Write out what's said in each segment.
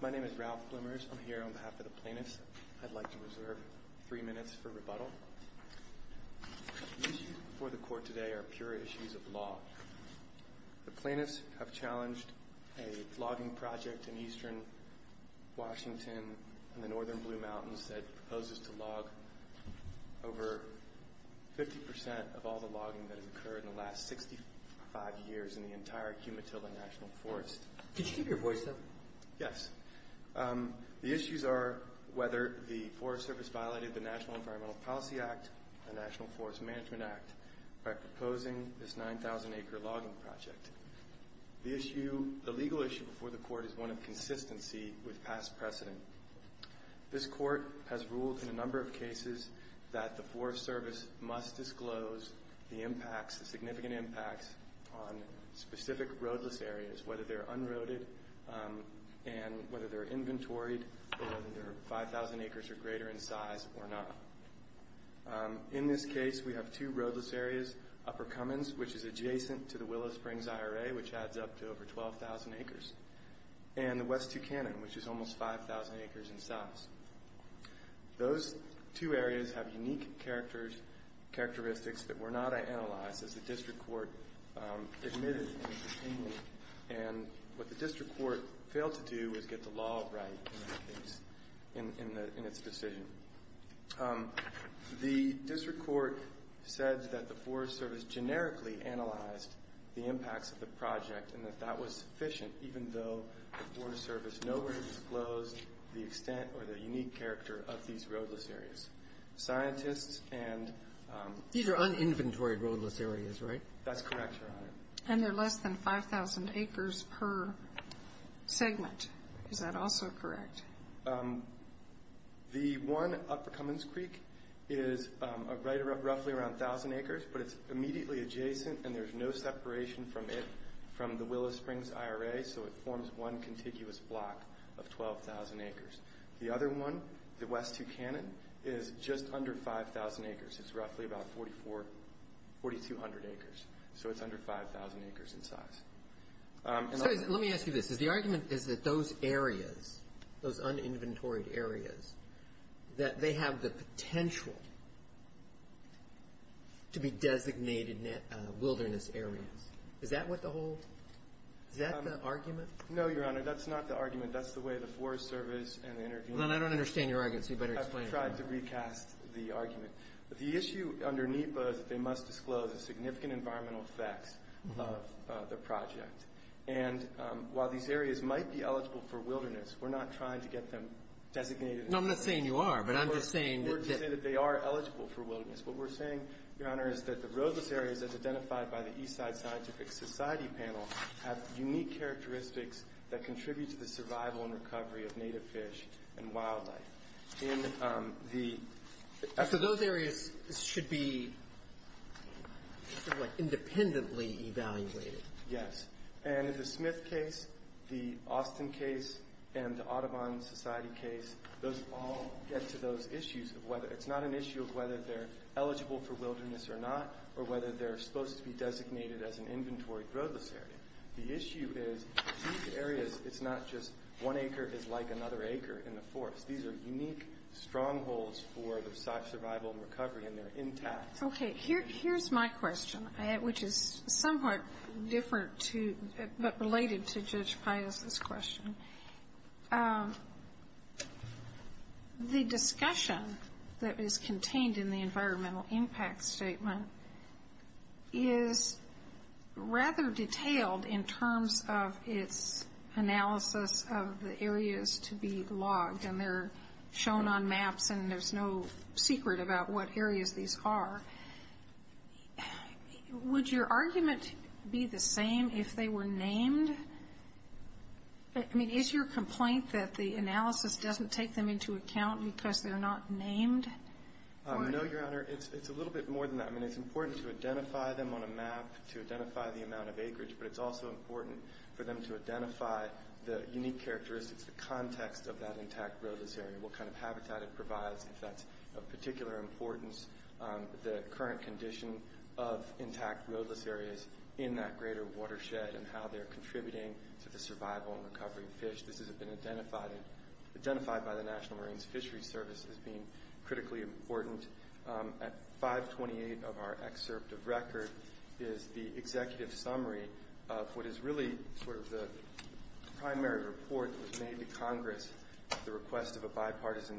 My name is Ralph Plymers. I'm here on behalf of the plaintiffs. I'd like to reserve three minutes for rebuttal. The issues before the court today are pure issues of law. The plaintiffs have challenged a logging project in eastern Washington and the northern Blue Mountains that proposes to log over 50% of all the logging that has occurred in the last 65 years in the entire Cumatilla National Forest. Could you keep your voice up? Yes. The issues are whether the Forest Service violated the National Environmental Policy Act and National Forest Management Act by proposing this 9,000 acre logging project. The legal issue before the court is one of consistency with past precedent. This court has ruled in a number of cases that the Forest Service must disclose the impacts, the significant impacts on specific roadless areas, whether they're unroaded and whether they're inventoried or whether they're 5,000 acres or greater in size or not. In this case, we have two roadless areas, Upper Cummins, which is adjacent to the Willow Springs IRA, which adds up to over 12,000 acres, and the West Tucanon, which is almost 5,000 acres in size. Those two areas have unique characteristics that were not analyzed as the district court admitted. What the district court failed to do was get the law right in its decision. The district court said that the Forest Service generically analyzed the impacts of the project and that that was sufficient even though the Forest Service nowhere disclosed the extent or the unique character of these roadless areas. These are uninventoried roadless areas, right? That's correct, Your Honor. And they're less than 5,000 acres per segment. Is that also correct? The one, Upper Cummins Creek, is roughly around 1,000 acres, but it's immediately adjacent and there's no separation from the Willow Springs IRA, so it forms one contiguous block of 12,000 acres. The other one, the West Tucanon, is just under 5,000 acres. It's roughly about 4,200 acres, so it's under 5,000 acres in size. Let me ask you this. The argument is that those areas, those uninventoried areas, that they have the potential to be designated wilderness areas. Is that what the whole argument is? No, Your Honor, that's not the argument. That's the way the Forest Service and the interviewers- Well, then I don't understand your argument, so you better explain it. I've tried to recast the argument. The issue under NEPA is that they must disclose the significant environmental effects of the project. And while these areas might be eligible for wilderness, we're not trying to get them designated as wilderness. No, I'm not saying you are, but I'm just saying that- We're just saying that they are eligible for wilderness. What we're saying, Your Honor, is that the roadless areas as identified by the Eastside Scientific Society panel have unique characteristics that contribute to the survival and recovery of native fish and wildlife. So those areas should be independently evaluated? Yes. And in the Smith case, the Austin case, and the Audubon Society case, those all get to those issues of whether- It's not an issue of whether they're eligible for wilderness or not, or whether they're supposed to be designated as an inventory roadless area. The issue is these areas, it's not just one acre is like another acre in the forest. These are unique strongholds for the survival and recovery, and they're intact. Okay. Here's my question, which is somewhat different, but related to Judge Pius' question. The discussion that is contained in the environmental impact statement is rather detailed in terms of its analysis of the areas to be logged, and they're shown on maps, and there's no secret about what areas these are. Would your argument be the same if they were named? I mean, is your complaint that the analysis doesn't take them into account because they're not named? No, Your Honor. It's a little bit more than that. I mean, it's important to identify them on a map to identify the amount of acreage, but it's also important for them to identify the unique characteristics, the context of that intact roadless area, what kind of habitat it provides, if that's of particular importance, the current condition of intact roadless areas in that greater watershed and how they're contributing to the survival and recovery of fish. This has been identified by the National Marines Fisheries Service as being critically important. At 528 of our excerpt of record is the executive summary of what is really sort of the primary report that was made to Congress at the request of a bipartisan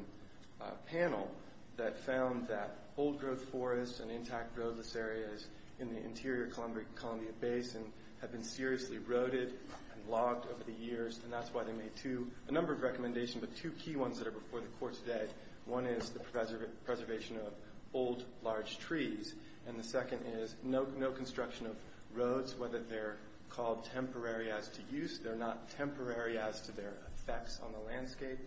panel that found that old-growth forests and intact roadless areas in the interior Columbia Basin have been seriously eroded and logged over the years, and that's why they made a number of recommendations, but two key ones that are before the Court today. One is the preservation of old, large trees, and the second is no construction of roads, whether they're called temporary as to use, they're not temporary as to their effects on the landscape.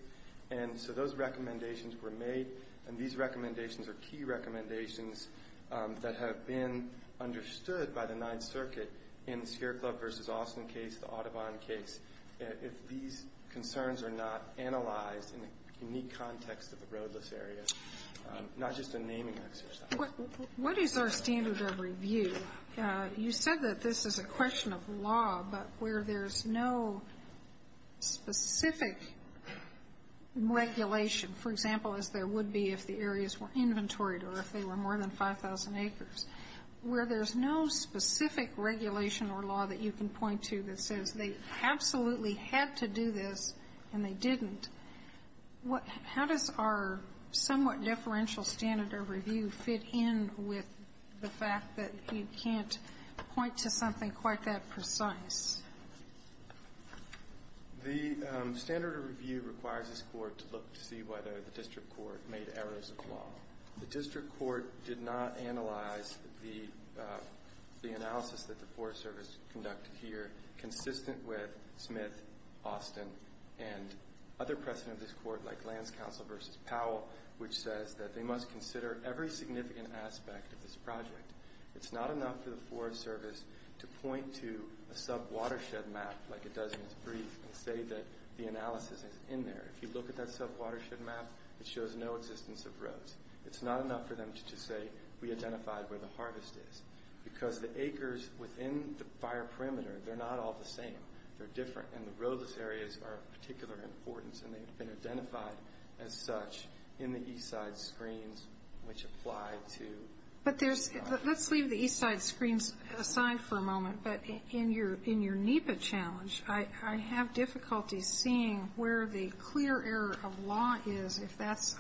And so those recommendations were made, and these recommendations are key recommendations that have been understood by the Ninth Circuit in the Sierra Club v. Austin case, the Audubon case. If these concerns are not analyzed in a unique context of a roadless area, not just a naming exercise. What is our standard of review? You said that this is a question of law, but where there's no specific regulation, for example, as there would be if the areas were inventoried or if they were more than 5,000 acres, where there's no specific regulation or law that you can point to that says they absolutely had to do this and they didn't, how does our somewhat differential standard of review fit in with the fact that you can't point to something quite that precise? The standard of review requires this Court to look to see whether the district court made errors of the law. The district court did not analyze the analysis that the Forest Service conducted here, consistent with Smith, Austin, and other precedent of this Court, like Lands Council v. Powell, which says that they must consider every significant aspect of this project. It's not enough for the Forest Service to point to a sub-watershed map like it does in its brief and say that the analysis is in there. If you look at that sub-watershed map, it shows no existence of roads. It's not enough for them to just say, we identified where the harvest is, because the acres within the fire perimeter, they're not all the same. They're different, and the roadless areas are of particular importance, and they've been identified as such in the east side screens, which apply to... But let's leave the east side screens aside for a moment, but in your NEPA challenge, I have difficulty seeing where the clear error of law is, if that's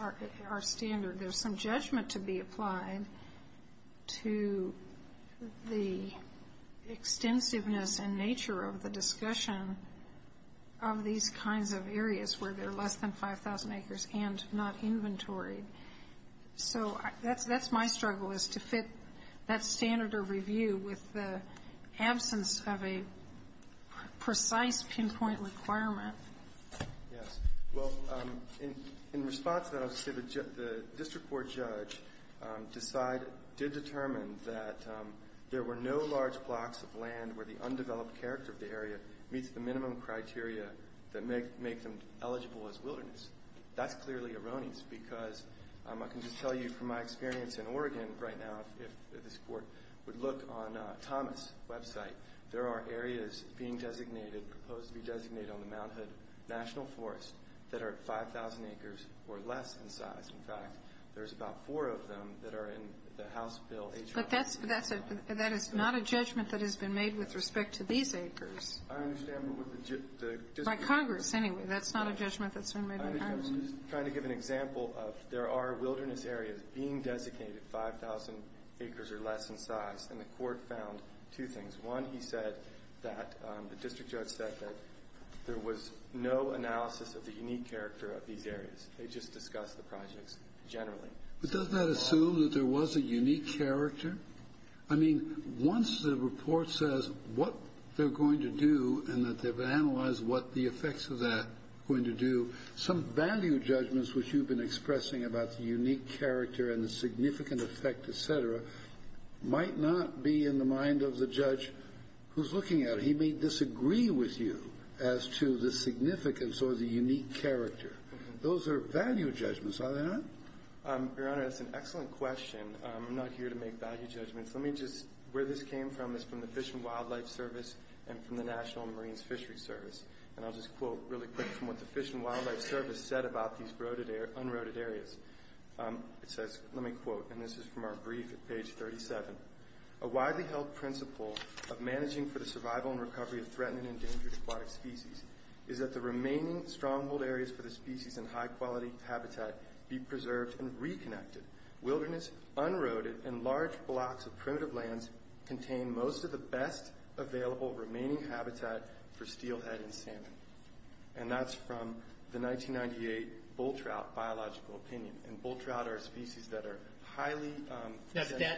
our standard. There's some judgment to be applied to the extensiveness and nature of the discussion of these kinds of areas where there are less than 5,000 acres and not inventoried. So that's my struggle, is to fit that standard of review with the absence of a precise pinpoint requirement. Yes. Well, in response to that, I'll just say that the district court judge did determine that there were no large blocks of land where the undeveloped character of the area meets the minimum criteria that make them eligible as wilderness. That's clearly erroneous, because I can just tell you from my experience in Oregon right now, if this court would look on Thomas' website, there are areas being designated, proposed to be designated on the Mount Hood National Forest, that are 5,000 acres or less in size. In fact, there's about four of them that are in the House Bill H.R. But that is not a judgment that has been made with respect to these acres. I understand, but with the... By Congress, anyway. That's not a judgment that's been made by Congress. I'm just trying to give an example of there are wilderness areas being designated 5,000 acres or less in size, and the court found two things. One, he said that the district judge said that there was no analysis of the unique character of these areas. They just discussed the projects generally. But doesn't that assume that there was a unique character? I mean, once the report says what they're going to do and that they've analyzed what the effects of that are going to do, some value judgments which you've been expressing about the unique character and the significant effect, et cetera, might not be in the mind of the judge who's looking at it. He may disagree with you as to the significance or the unique character. Those are value judgments, are they not? Your Honor, that's an excellent question. I'm not here to make value judgments. Where this came from is from the Fish and Wildlife Service and from the National Marines Fisheries Service. I'll just quote really quick from what the Fish and Wildlife Service said about these unroaded areas. It says, let me quote, and this is from our brief at page 37. A widely held principle of managing for the survival and recovery of threatened and endangered aquatic species is that the remaining stronghold areas for the species in high-quality habitat be preserved and reconnected. Wilderness, unroaded, and large blocks of primitive lands contain most of the best available remaining habitat for steelhead and salmon. And that's from the 1998 bull trout biological opinion. And bull trout are a species that are highly sensitive. Now,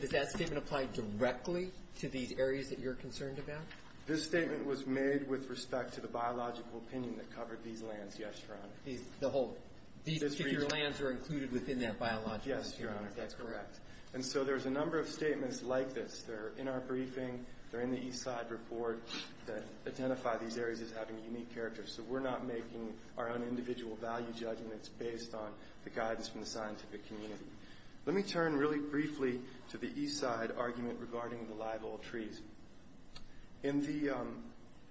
does that statement apply directly to these areas that you're concerned about? This statement was made with respect to the biological opinion that covered these lands yesterday. Yes, Your Honor. These particular lands are included within that biological opinion. Yes, Your Honor. That's correct. And so there's a number of statements like this. They're in our briefing. They're in the Eastside report that identify these areas as having unique characters. So we're not making our own individual value judgments based on the guidance from the scientific community. Let me turn really briefly to the Eastside argument regarding the live old trees. In the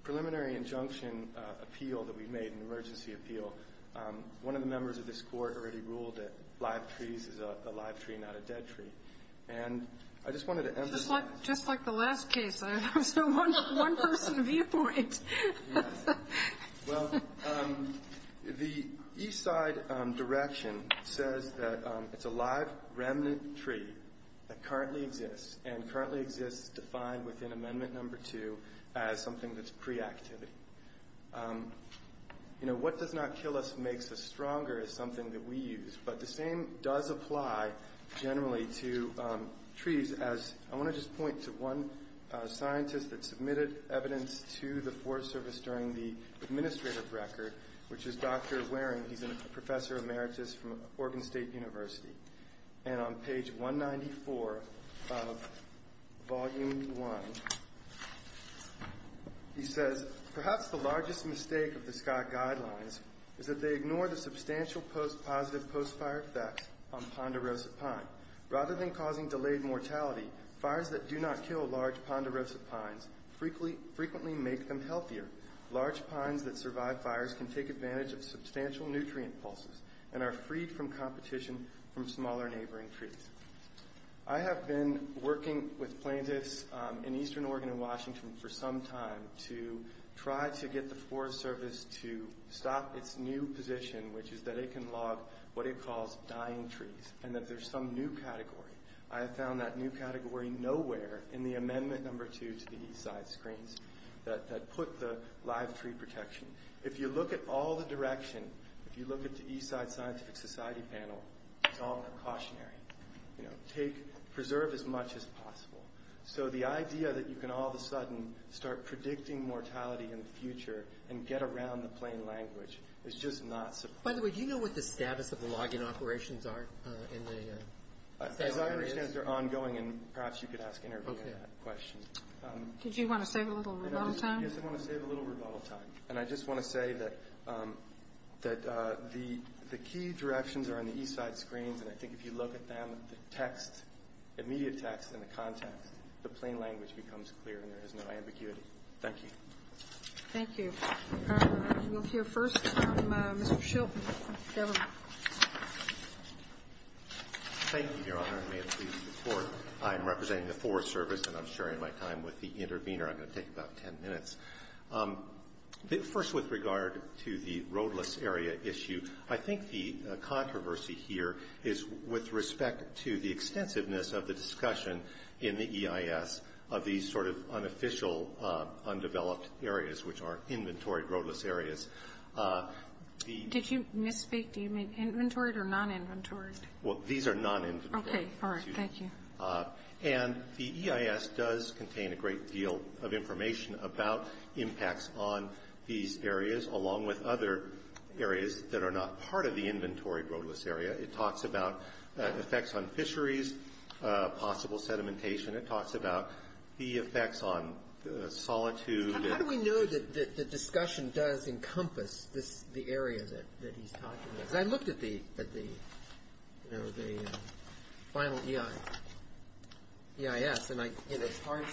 preliminary injunction appeal that we made, an emergency appeal, one of the members of this court already ruled that live trees is a live tree, not a dead tree. And I just wanted to emphasize that. Just like the last case, there was no one-person viewpoint. Well, the Eastside direction says that it's a live remnant tree that currently exists and currently exists defined within Amendment No. 2 as something that's pre-activity. You know, what does not kill us makes us stronger is something that we use. But the same does apply generally to trees. I want to just point to one scientist that submitted evidence to the Forest Service during the administrative record, which is Dr. Waring. He's a professor emeritus from Oregon State University. And on page 194 of Volume 1, he says, Perhaps the largest mistake of the Scott Guidelines is that they ignore the substantial post-positive post-fire effects on Ponderosa pine. Rather than causing delayed mortality, fires that do not kill large Ponderosa pines frequently make them healthier. Large pines that survive fires can take advantage of substantial nutrient pulses and are freed from competition from smaller neighboring trees. I have been working with plaintiffs in eastern Oregon and Washington for some time to try to get the Forest Service to stop its new position, which is that it can log what it calls dying trees and that there's some new category. I have found that new category nowhere in the Amendment No. 2 to the Eastside screens that put the live tree protection. If you look at all the direction, if you look at the Eastside Scientific Society panel, it's all precautionary. Preserve as much as possible. So the idea that you can all of a sudden start predicting mortality in the future and get around the plain language is just not sufficient. By the way, do you know what the status of the log-in operations are? As far as I understand, they're ongoing, and perhaps you could ask Interviewee that question. Did you want to save a little rebuttal time? Yes, I want to save a little rebuttal time, and I just want to say that the key directions are in the Eastside screens, and I think if you look at them, the text, immediate text and the context, the plain language becomes clear and there is no ambiguity. Thank you. Thank you. We'll hear first from Mr. Shelton of the government. Thank you, Your Honor, and may it please the Court. I am representing the Forest Service, and I'm sharing my time with the intervener. I'm going to take about ten minutes. First, with regard to the roadless area issue, I think the controversy here is with respect to the extensiveness of the discussion in the EIS of these sort of unofficial undeveloped areas, which are inventory roadless areas. Did you misspeak? Do you mean inventoried or non-inventoried? Well, these are non-inventoried. Okay. All right. Thank you. And the EIS does contain a great deal of information about impacts on these areas, along with other areas that are not part of the inventory roadless area. It talks about effects on fisheries, possible sedimentation. It talks about the effects on solitude. How do we know that the discussion does encompass the area that he's talking about? Because I looked at the final EIS, and it's hard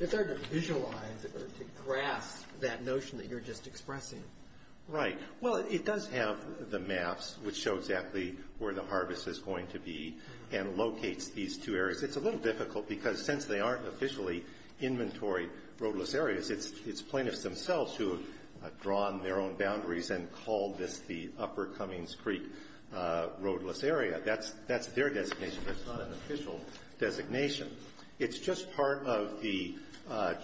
to visualize or to grasp that notion that you're just expressing. Right. Well, it does have the maps, which show exactly where the harvest is going to be, and locates these two areas. It's a little difficult because since they aren't officially inventory roadless areas, it's plaintiffs themselves who have drawn their own boundaries and called this the Upper Cummings Creek roadless area. That's their designation. That's not an official designation. It's just part of the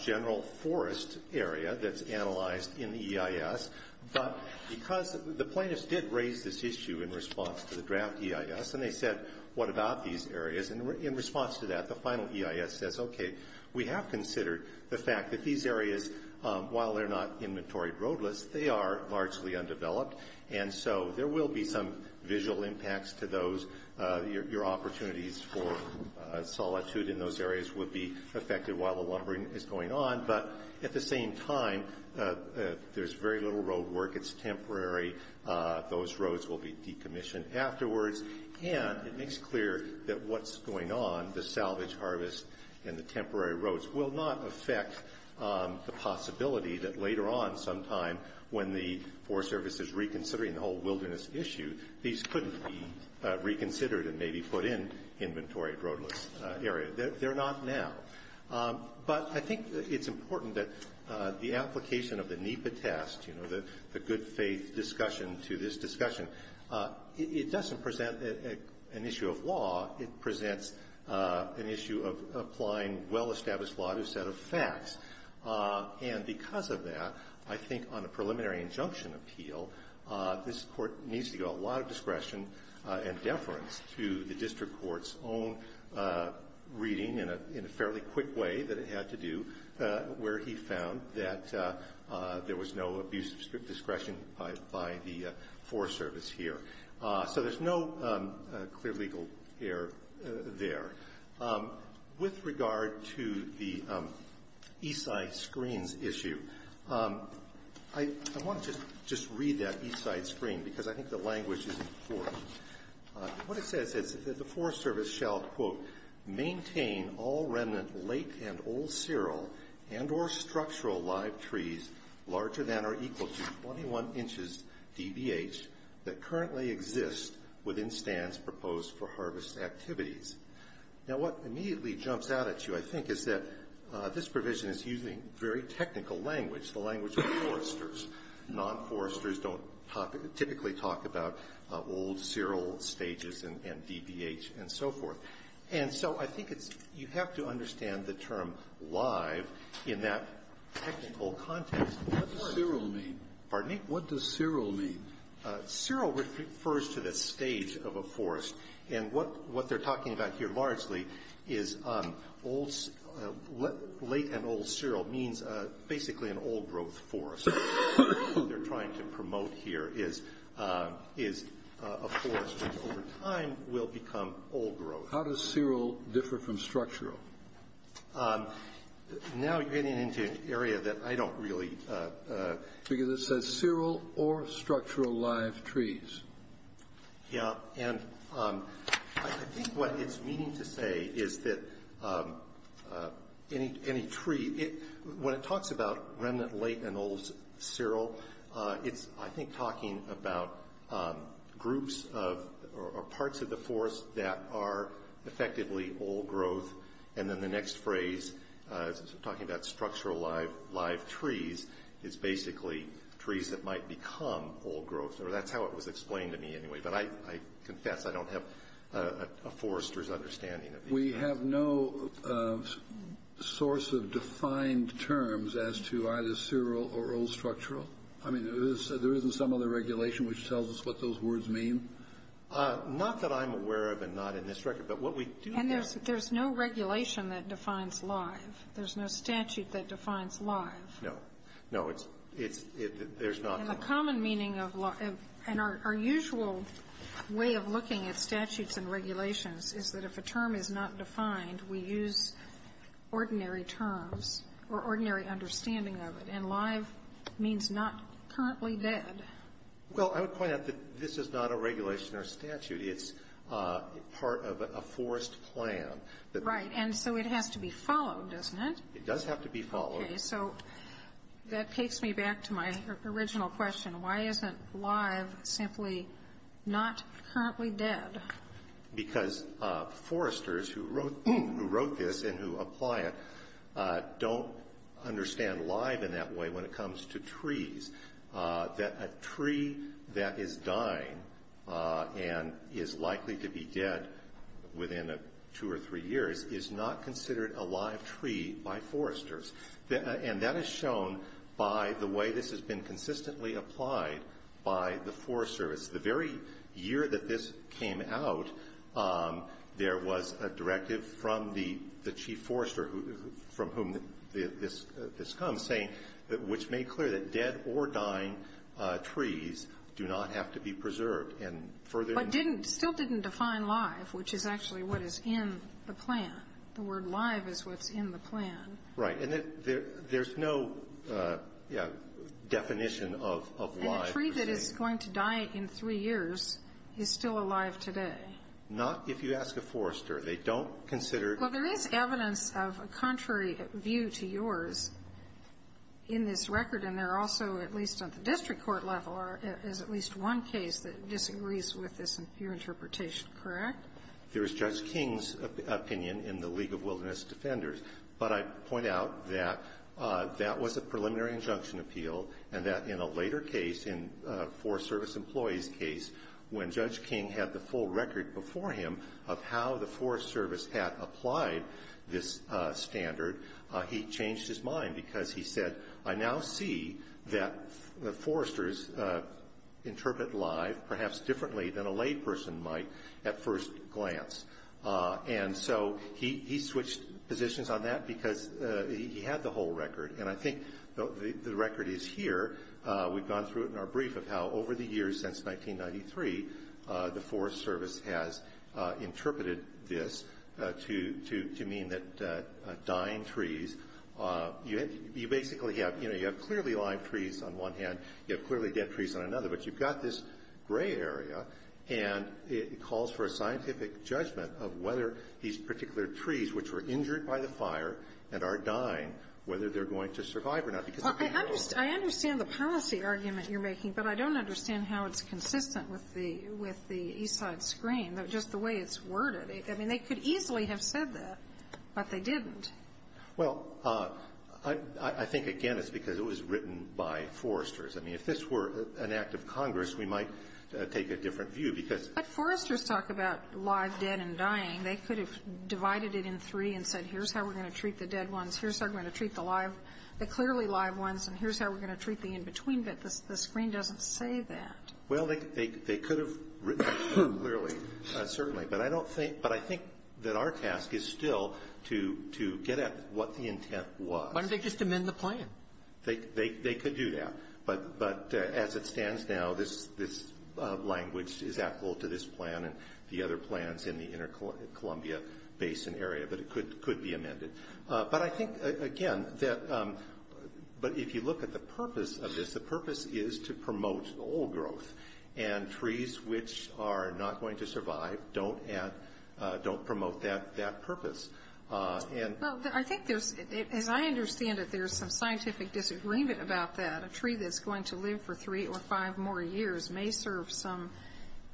general forest area that's analyzed in the EIS. But because the plaintiffs did raise this issue in response to the draft EIS, and they said, what about these areas? In response to that, the final EIS says, okay, we have considered the fact that these areas, while they're not inventory roadless, they are largely undeveloped, and so there will be some visual impacts to those. Your opportunities for solitude in those areas would be affected while the lumbering is going on. But at the same time, there's very little road work. It's temporary. Those roads will be decommissioned afterwards. And it makes clear that what's going on, the salvage harvest and the temporary roads, will not affect the possibility that later on sometime when the Forest Service is reconsidering the whole wilderness issue, these couldn't be reconsidered and maybe put in inventory roadless areas. They're not now. But I think it's important that the application of the NEPA test, you know, the good faith discussion to this discussion, it doesn't present an issue of law. It presents an issue of applying well-established law to a set of facts. And because of that, I think on a preliminary injunction appeal, this Court needs to give a lot of discretion and deference to the district court's own reading in a fairly quick way that it had to do, where he found that there was no abuse of discretion by the Forest Service here. So there's no clear legal error there. With regard to the east side screens issue, I want to just read that east side screen because I think the language is important. What it says is that the Forest Service shall, quote, maintain all remnant late and old cereal and or structural live trees larger than or equal to 21 inches dbh that currently exist within stands proposed for harvest activities. Now, what immediately jumps out at you, I think, is that this provision is using very technical language, the language of foresters. Non-foresters don't typically talk about old cereal stages and dbh and so forth. And so I think you have to understand the term live in that technical context. What does cereal mean? Pardon me? What does cereal mean? Cereal refers to the stage of a forest. And what they're talking about here largely is late and old cereal means basically an old growth forest. What they're trying to promote here is a forest which over time will become old growth. How does cereal differ from structural? Now you're getting into an area that I don't really... Because it says cereal or structural live trees. Yeah. And I think what it's meaning to say is that any tree, when it talks about remnant late and old cereal, it's, I think, talking about groups of or parts of the forest that are effectively old growth. And then the next phrase, talking about structural live trees, is basically trees that might become old growth. Or that's how it was explained to me anyway. But I confess I don't have a forester's understanding of these. We have no source of defined terms as to either cereal or old structural? I mean, there isn't some other regulation which tells us what those words mean? Not that I'm aware of and not in this record. But what we do have... And there's no regulation that defines live. There's no statute that defines live. No. No. There's not. And the common meaning of live, and our usual way of looking at statutes and regulations, is that if a term is not defined, we use ordinary terms or ordinary understanding of it. And live means not currently dead. Well, I would point out that this is not a regulation or statute. It's part of a forest plan. Right. And so it has to be followed, doesn't it? It does have to be followed. Okay. So that takes me back to my original question. Why isn't live simply not currently dead? Because foresters who wrote this and who apply it don't understand live in that way when it comes to trees, that a tree that is dying and is likely to be dead within two or three years is not considered a live tree by foresters. And that is shown by the way this has been consistently applied by the Forest Service. The very year that this came out, there was a directive from the chief forester from whom this comes, saying which made clear that dead or dying trees do not have to be preserved. But didn't, still didn't define live, which is actually what is in the plan. The word live is what's in the plan. Right. And there's no definition of live, per se. And a tree that is going to die in three years is still alive today. Not if you ask a forester. They don't consider it. Well, there is evidence of a contrary view to yours in this record. And there also, at least at the district court level, is at least one case that disagrees with this interpretation, correct? There is Judge King's opinion in the League of Wilderness Defenders. But I point out that that was a preliminary injunction appeal, and that in a later case, in Forest Service employees' case, when Judge King had the full record before him of how the Forest Service had applied this standard, he changed his mind because he said, I now see that foresters interpret live perhaps differently than a layperson might at first glance. And so he switched positions on that because he had the whole record. And I think the record is here. We've gone through it in our brief of how over the years since 1993, the Forest Service has interpreted this to mean that dying trees, you basically have, you know, you have clearly live trees on one hand, you have clearly dead trees on another. But you've got this gray area, and it calls for a scientific judgment of whether these particular trees, which were injured by the fire and are dying, whether they're going to survive or not. Because if they don't. I understand the policy argument you're making, but I don't understand how it's written on the screen, just the way it's worded. I mean, they could easily have said that, but they didn't. Well, I think, again, it's because it was written by foresters. I mean, if this were an act of Congress, we might take a different view because But foresters talk about live, dead, and dying. They could have divided it in three and said, here's how we're going to treat the dead ones, here's how we're going to treat the live, the clearly live ones, and here's how we're going to treat the in-between, but the screen doesn't say that. Well, they could have written that clearly, certainly, but I don't think, but I think that our task is still to get at what the intent was. Why don't they just amend the plan? They could do that. But as it stands now, this language is applicable to this plan and the other plans in the inter-Columbia Basin area, but it could be amended. But I think, again, that if you look at the purpose of this, the purpose is to promote old growth, and trees which are not going to survive don't promote that purpose. And Well, I think there's, as I understand it, there's some scientific disagreement about that. A tree that's going to live for three or five more years may serve some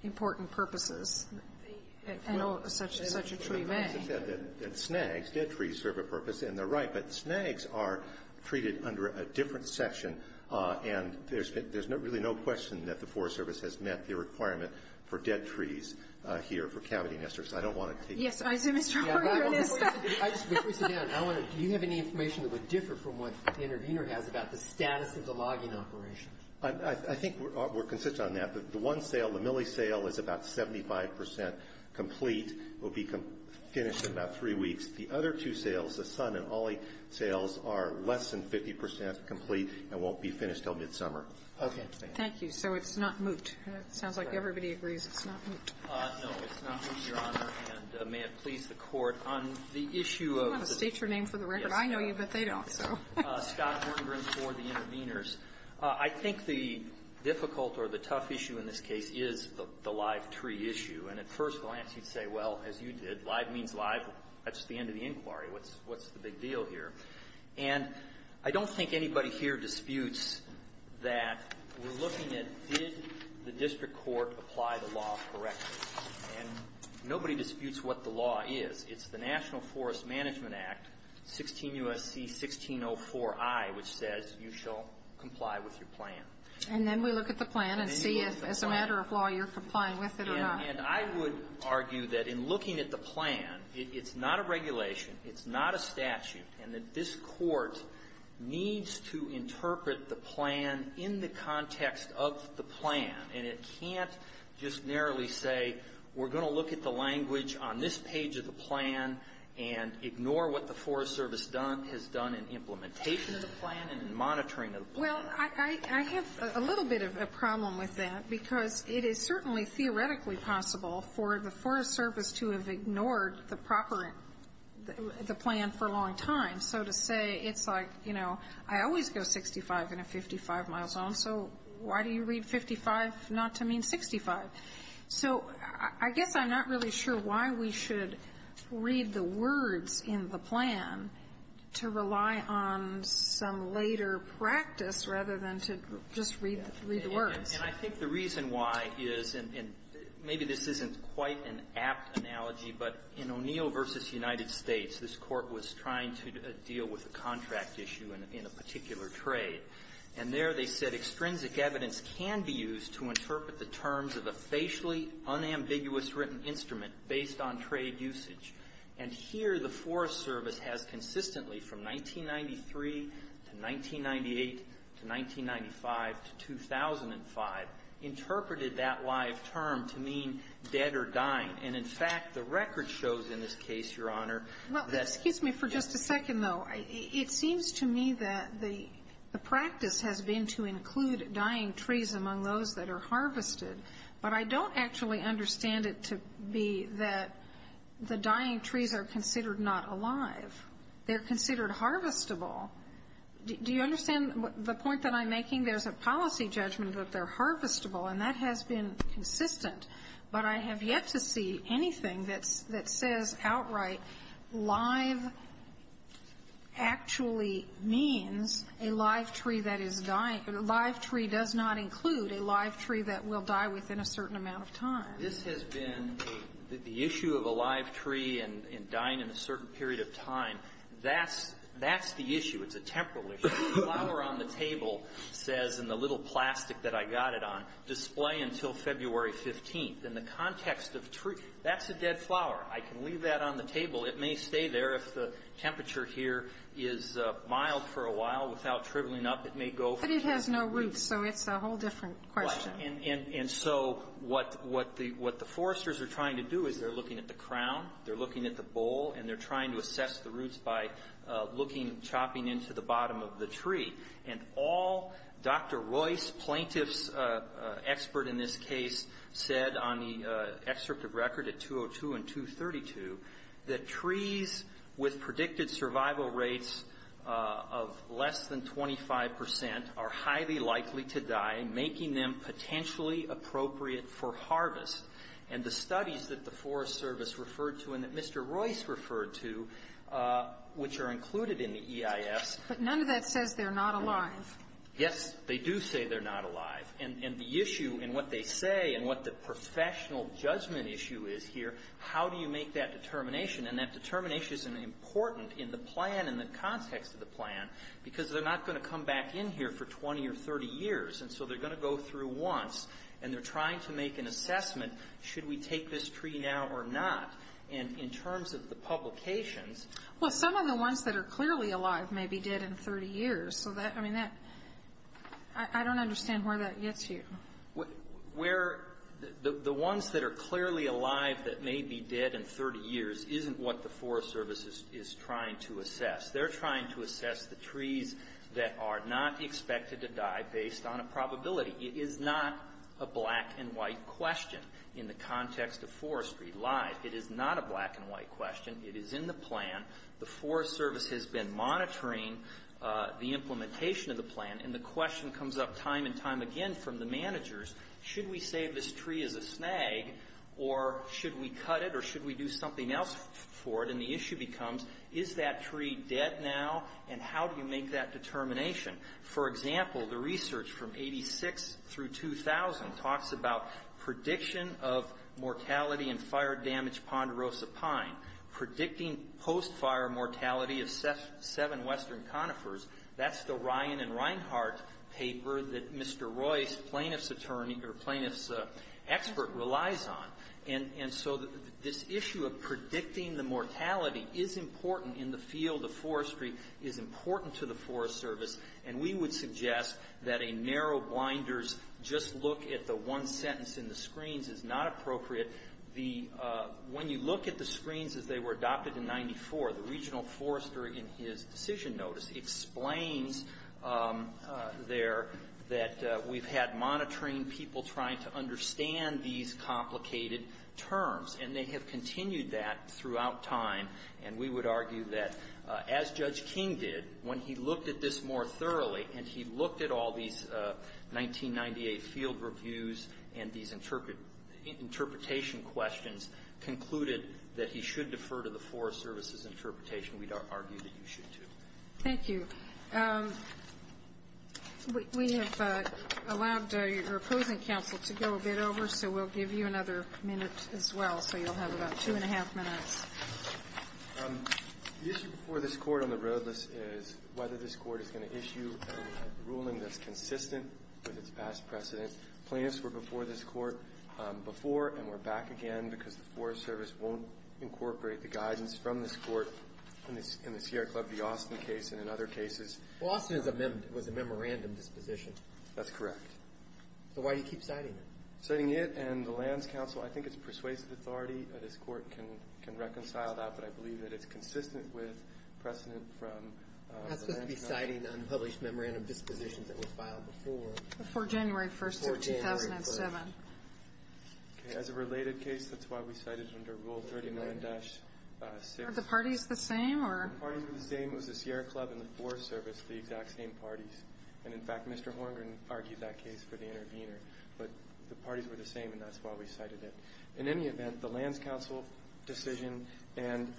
important purposes. I know such a tree may. Well, as I said, that snags, dead trees serve a purpose, and they're right, but snags are treated under a different section. And there's really no question that the Forest Service has met the requirement for dead trees here for cavity nesters. I don't want to take Yes, I assume it's true. I just want to sit down. Do you have any information that would differ from what the intervener has about the status of the logging operation? I think we're consistent on that. The one sale, the Millie sale, is about 75 percent complete, will be finished in about three weeks. The other two sales, the Son and Ollie sales, are less than 50 percent complete and won't be finished until midsummer. Okay. Thank you. So it's not moot. It sounds like everybody agrees it's not moot. No, it's not moot, Your Honor. And may it please the Court, on the issue of the You want to state your name for the record. I know you, but they don't, so. Scott Hortengren for the interveners. I think the difficult or the tough issue in this case is the live tree issue. And at first glance, you'd say, well, as you did, live means live. That's the end of the inquiry. What's the big deal here? And I don't think anybody here disputes that we're looking at did the district court apply the law correctly. And nobody disputes what the law is. It's the National Forest Management Act, 16 U.S.C. 1604I, which says you shall comply with your plan. And then we look at the plan and see if, as a matter of law, you're complying with it And I would argue that in looking at the plan, it's not a regulation, it's not a statute, and that this Court needs to interpret the plan in the context of the plan. And it can't just narrowly say we're going to look at the language on this page of the plan and ignore what the Forest Service has done in implementation of the plan and in monitoring of the plan. Well, I have a little bit of a problem with that because it is certainly theoretically possible for the Forest Service to have ignored the plan for a long time. So to say, it's like, you know, I always go 65 in a 55-mile zone, so why do you read 55 not to mean 65? So I guess I'm not really sure why we should read the words in the plan to rely on some later practice, rather than to just read the words. And I think the reason why is, and maybe this isn't quite an apt analogy, but in O'Neill v. United States, this Court was trying to deal with a contract issue in a particular trade. And there they said, Extrinsic evidence can be used to interpret the terms of a facially unambiguous written instrument based on trade usage. And here the Forest Service has consistently, from 1993 to 1998 to 1995 to 2005, interpreted that live term to mean dead or dying. And in fact, the record shows in this case, Your Honor, that Well, excuse me for just a second, though. It seems to me that the practice has been to include dying trees among those that are harvested. But I don't actually understand it to be that the dying trees are considered not alive. They're considered harvestable. Do you understand the point that I'm making? There's a policy judgment that they're harvestable, and that has been consistent. But I have yet to see anything that says outright live actually means a live tree that is dying. A live tree does not include a live tree that will die within a certain amount of time. This has been a the issue of a live tree and dying in a certain period of time, that's the issue. It's a temporal issue. The flower on the table says in the little plastic that I got it on, display until February 15th. In the context of tree, that's a dead flower. I can leave that on the table. It may stay there if the temperature here is mild for a while. Without shriveling up, it may go. But it has no roots, so it's a whole different question. And so what the foresters are trying to do is they're looking at the crown, they're looking at the bowl, and they're trying to assess the roots by looking, chopping into the bottom of the tree. And all Dr. Royce, plaintiff's expert in this case, said on the excerpt of record at 202 and 232, that trees with predicted survival rates of less than 25 percent are highly likely to die, making them potentially appropriate for harvest. And the studies that the Forest Service referred to and that Mr. Royce referred to, which are included in the EIS ---- But none of that says they're not alive. Yes, they do say they're not alive. And the issue in what they say and what the professional judgment issue is here, how do you make that determination? And that determination is important in the plan and the context of the plan because they're not going to come back in here for 20 or 30 years. And so they're going to go through once, and they're trying to make an assessment, should we take this tree now or not? And in terms of the publications ---- Well, some of the ones that are clearly alive may be dead in 30 years. I don't understand where that gets you. The ones that are clearly alive that may be dead in 30 years isn't what the Forest Service is trying to assess. They're trying to assess the trees that are not expected to die based on a probability. It is not a black and white question in the context of forestry live. It is not a black and white question. It is in the plan. The Forest Service has been monitoring the implementation of the plan, and the question comes up time and time again from the managers, should we save this tree as a snag, or should we cut it, or should we do something else for it? And the issue becomes, is that tree dead now, and how do you make that determination? For example, the research from 86 through 2000 talks about prediction of mortality in fire-damaged ponderosa pine, predicting post-fire mortality of seven western conifers. That's the Ryan and Reinhart paper that Mr. Royce, plaintiff's expert, relies on. And so this issue of predicting the mortality is important in the field of forestry, is important to the Forest Service, and we would suggest that a narrow, blinders, just look at the one sentence in the screens is not appropriate. When you look at the screens as they were adopted in 94, the regional forester in his decision notice explains there that we've had monitoring people trying to understand these complicated terms, and they have continued that throughout time, and we would argue that, as Judge King did, when he looked at this more thoroughly, and he looked at all these 1998 field reviews and these interpretation questions, concluded that he should defer to the Forest Service's interpretation. We'd argue that you should, too. Thank you. We have allowed your opposing counsel to go a bit over, so we'll give you another minute as well, so you'll have about two and a half minutes. The issue before this Court on the road list is whether this Court is going to issue a ruling that's consistent with its past precedents. Plaintiffs were before this Court before and were back again because the Forest Service won't incorporate the guidance from this Court in the Sierra Club v. Austin case and in other cases. Well, Austin was a memorandum disposition. That's correct. So why do you keep citing it? Citing it and the lands counsel, I think it's persuasive authority that this Court can reconcile that, but I believe that it's consistent with precedent from the lands counsel. That's supposed to be citing unpublished memorandum dispositions that were filed before. Before January 1st of 2007. As a related case, that's why we cited it under Rule 39-6. Are the parties the same? The parties were the same. It was the Sierra Club and the Forest Service, the exact same parties. And, in fact, Mr. Horngren argued that case for the intervener. But the parties were the same, and that's why we cited it. In any event, the lands counsel decision and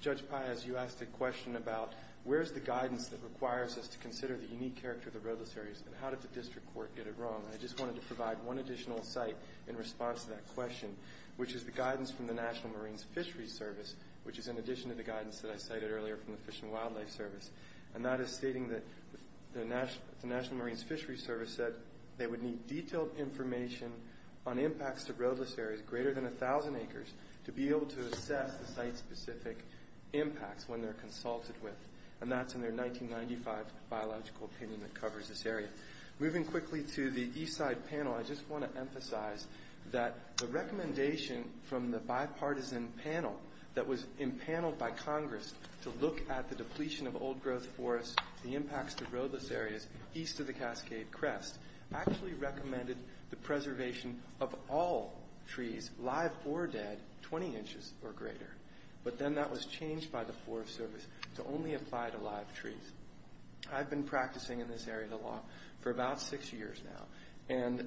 Judge Paez, you asked a question about where's the guidance that requires us to consider the unique character of the roadless areas and how did the district court get it wrong? And I just wanted to provide one additional cite in response to that question, which is the guidance from the National Marines Fishery Service, which is in addition to the guidance that I cited earlier from the Fish and Wildlife Service. And that is stating that the National Marines Fishery Service said they would need detailed information on impacts to roadless areas greater than 1,000 acres to be able to assess the site-specific impacts when they're consulted with. And that's in their 1995 Biological Opinion that covers this area. Moving quickly to the east side panel, I just want to emphasize that the recommendation from the bipartisan panel that was empaneled by Congress to look at the depletion of old trees, the preservation of all trees, live or dead, 20 inches or greater. But then that was changed by the Forest Service to only apply to live trees. I've been practicing in this area of the law for about six years now. And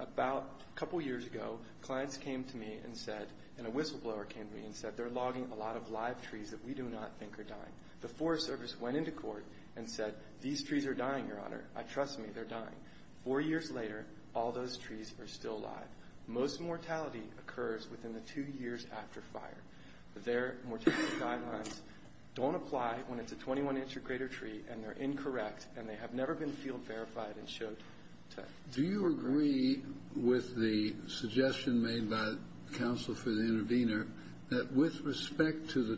about a couple years ago, clients came to me and said, and a whistleblower came to me and said, they're logging a lot of live trees that we do not think are dying. The Forest Service went into court and said, these trees are dying, Your Honor. Trust me, they're dying. Four years later, all those trees are still alive. Most mortality occurs within the two years after fire. Their mortality guidelines don't apply when it's a 21 inch or greater tree and they're incorrect and they have never been field verified and showed to us. Do you agree with the suggestion made by counsel for the intervener that with respect to the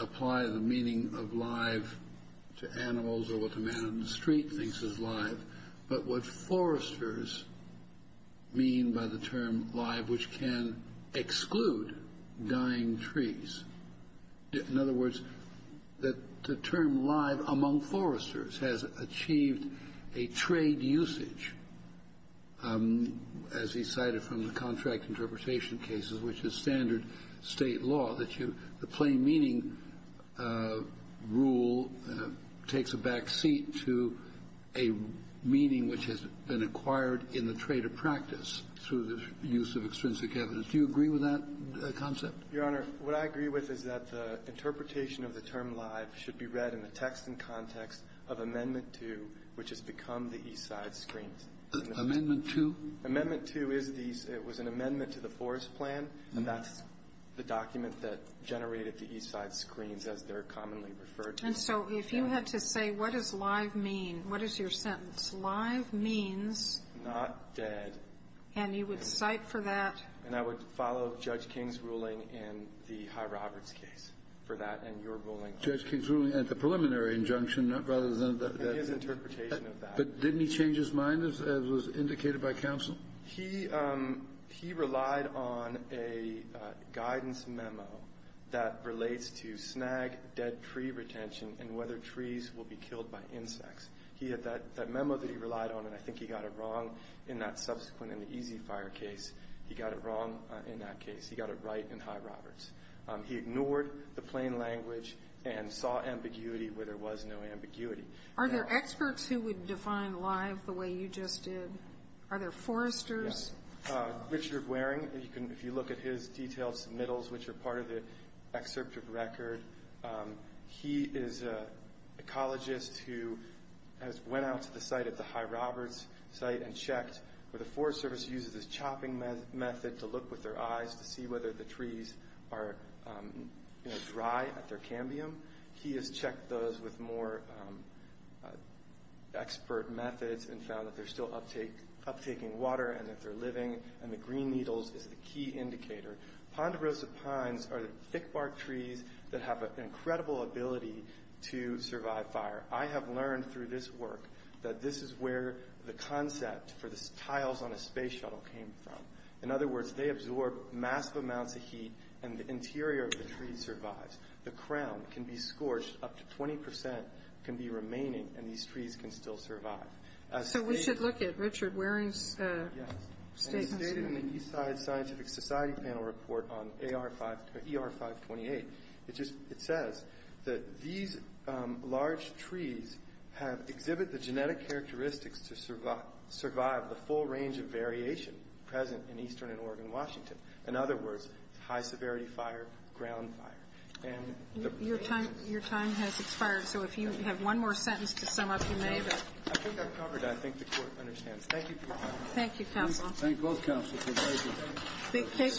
apply the meaning of live to animals or what the man on the street thinks is live, but what foresters mean by the term live, which can exclude dying trees. In other words, that the term live among foresters has achieved a trade usage. As he cited from the contract interpretation cases, which is standard state law, that the plain meaning rule takes a back seat to a meaning which has been acquired in the trade of practice through the use of extrinsic evidence. Do you agree with that concept? Your Honor, what I agree with is that the interpretation of the term live should be read in the text and context of Amendment 2, which has become the East Side Screens. Amendment 2? Amendment 2 is the, it was an amendment to the forest plan, and that's the document that generated the East Side Screens as they're commonly referred to. And so if you had to say what does live mean, what is your sentence? Live means? Not dead. And you would cite for that? And I would follow Judge King's ruling in the High Roberts case for that and your ruling. Judge King's ruling at the preliminary injunction rather than the interpretation of that. But didn't he change his mind, as was indicated by counsel? He relied on a guidance memo that relates to snag dead tree retention and whether trees will be killed by insects. He had that memo that he relied on, and I think he got it wrong in that subsequent in the Easy Fire case. He got it wrong in that case. He got it right in High Roberts. He ignored the plain language and saw ambiguity where there was no ambiguity. Are there experts who would define live the way you just did? Are there foresters? Yes. Richard Waring, if you look at his detailed submittals, which are part of the excerpt of record, he is an ecologist who has went out to the site at the High Roberts site and checked where the Forest Service uses this chopping method to look with their eyes to see whether the trees are, you know, dry at their cambium. He has checked those with more expert methods and found that they're still uptaking water and that they're living, and the green needles is the key indicator. Ponderosa pines are thick bark trees that have an incredible ability to survive fire. I have learned through this work that this is where the concept for the tiles on a space shuttle came from. In other words, they absorb massive amounts of heat, and the interior of the tree survives. The crown can be scorched. Up to 20 percent can be remaining, and these trees can still survive. So we should look at Richard Waring's statement. Yes, and he stated in the Eastside Scientific Society panel report on ER 528, it says that these large trees have exhibited the genetic characteristics to survive the full range of variation present in eastern and Oregon, Washington. In other words, high-severity fire, ground fire. And the... Your time has expired, so if you have one more sentence to sum up, you may, but... I think I've covered it. I think the Court understands. Thank you for your time. Thank you, Counsel. Thank both counsels. Thank you.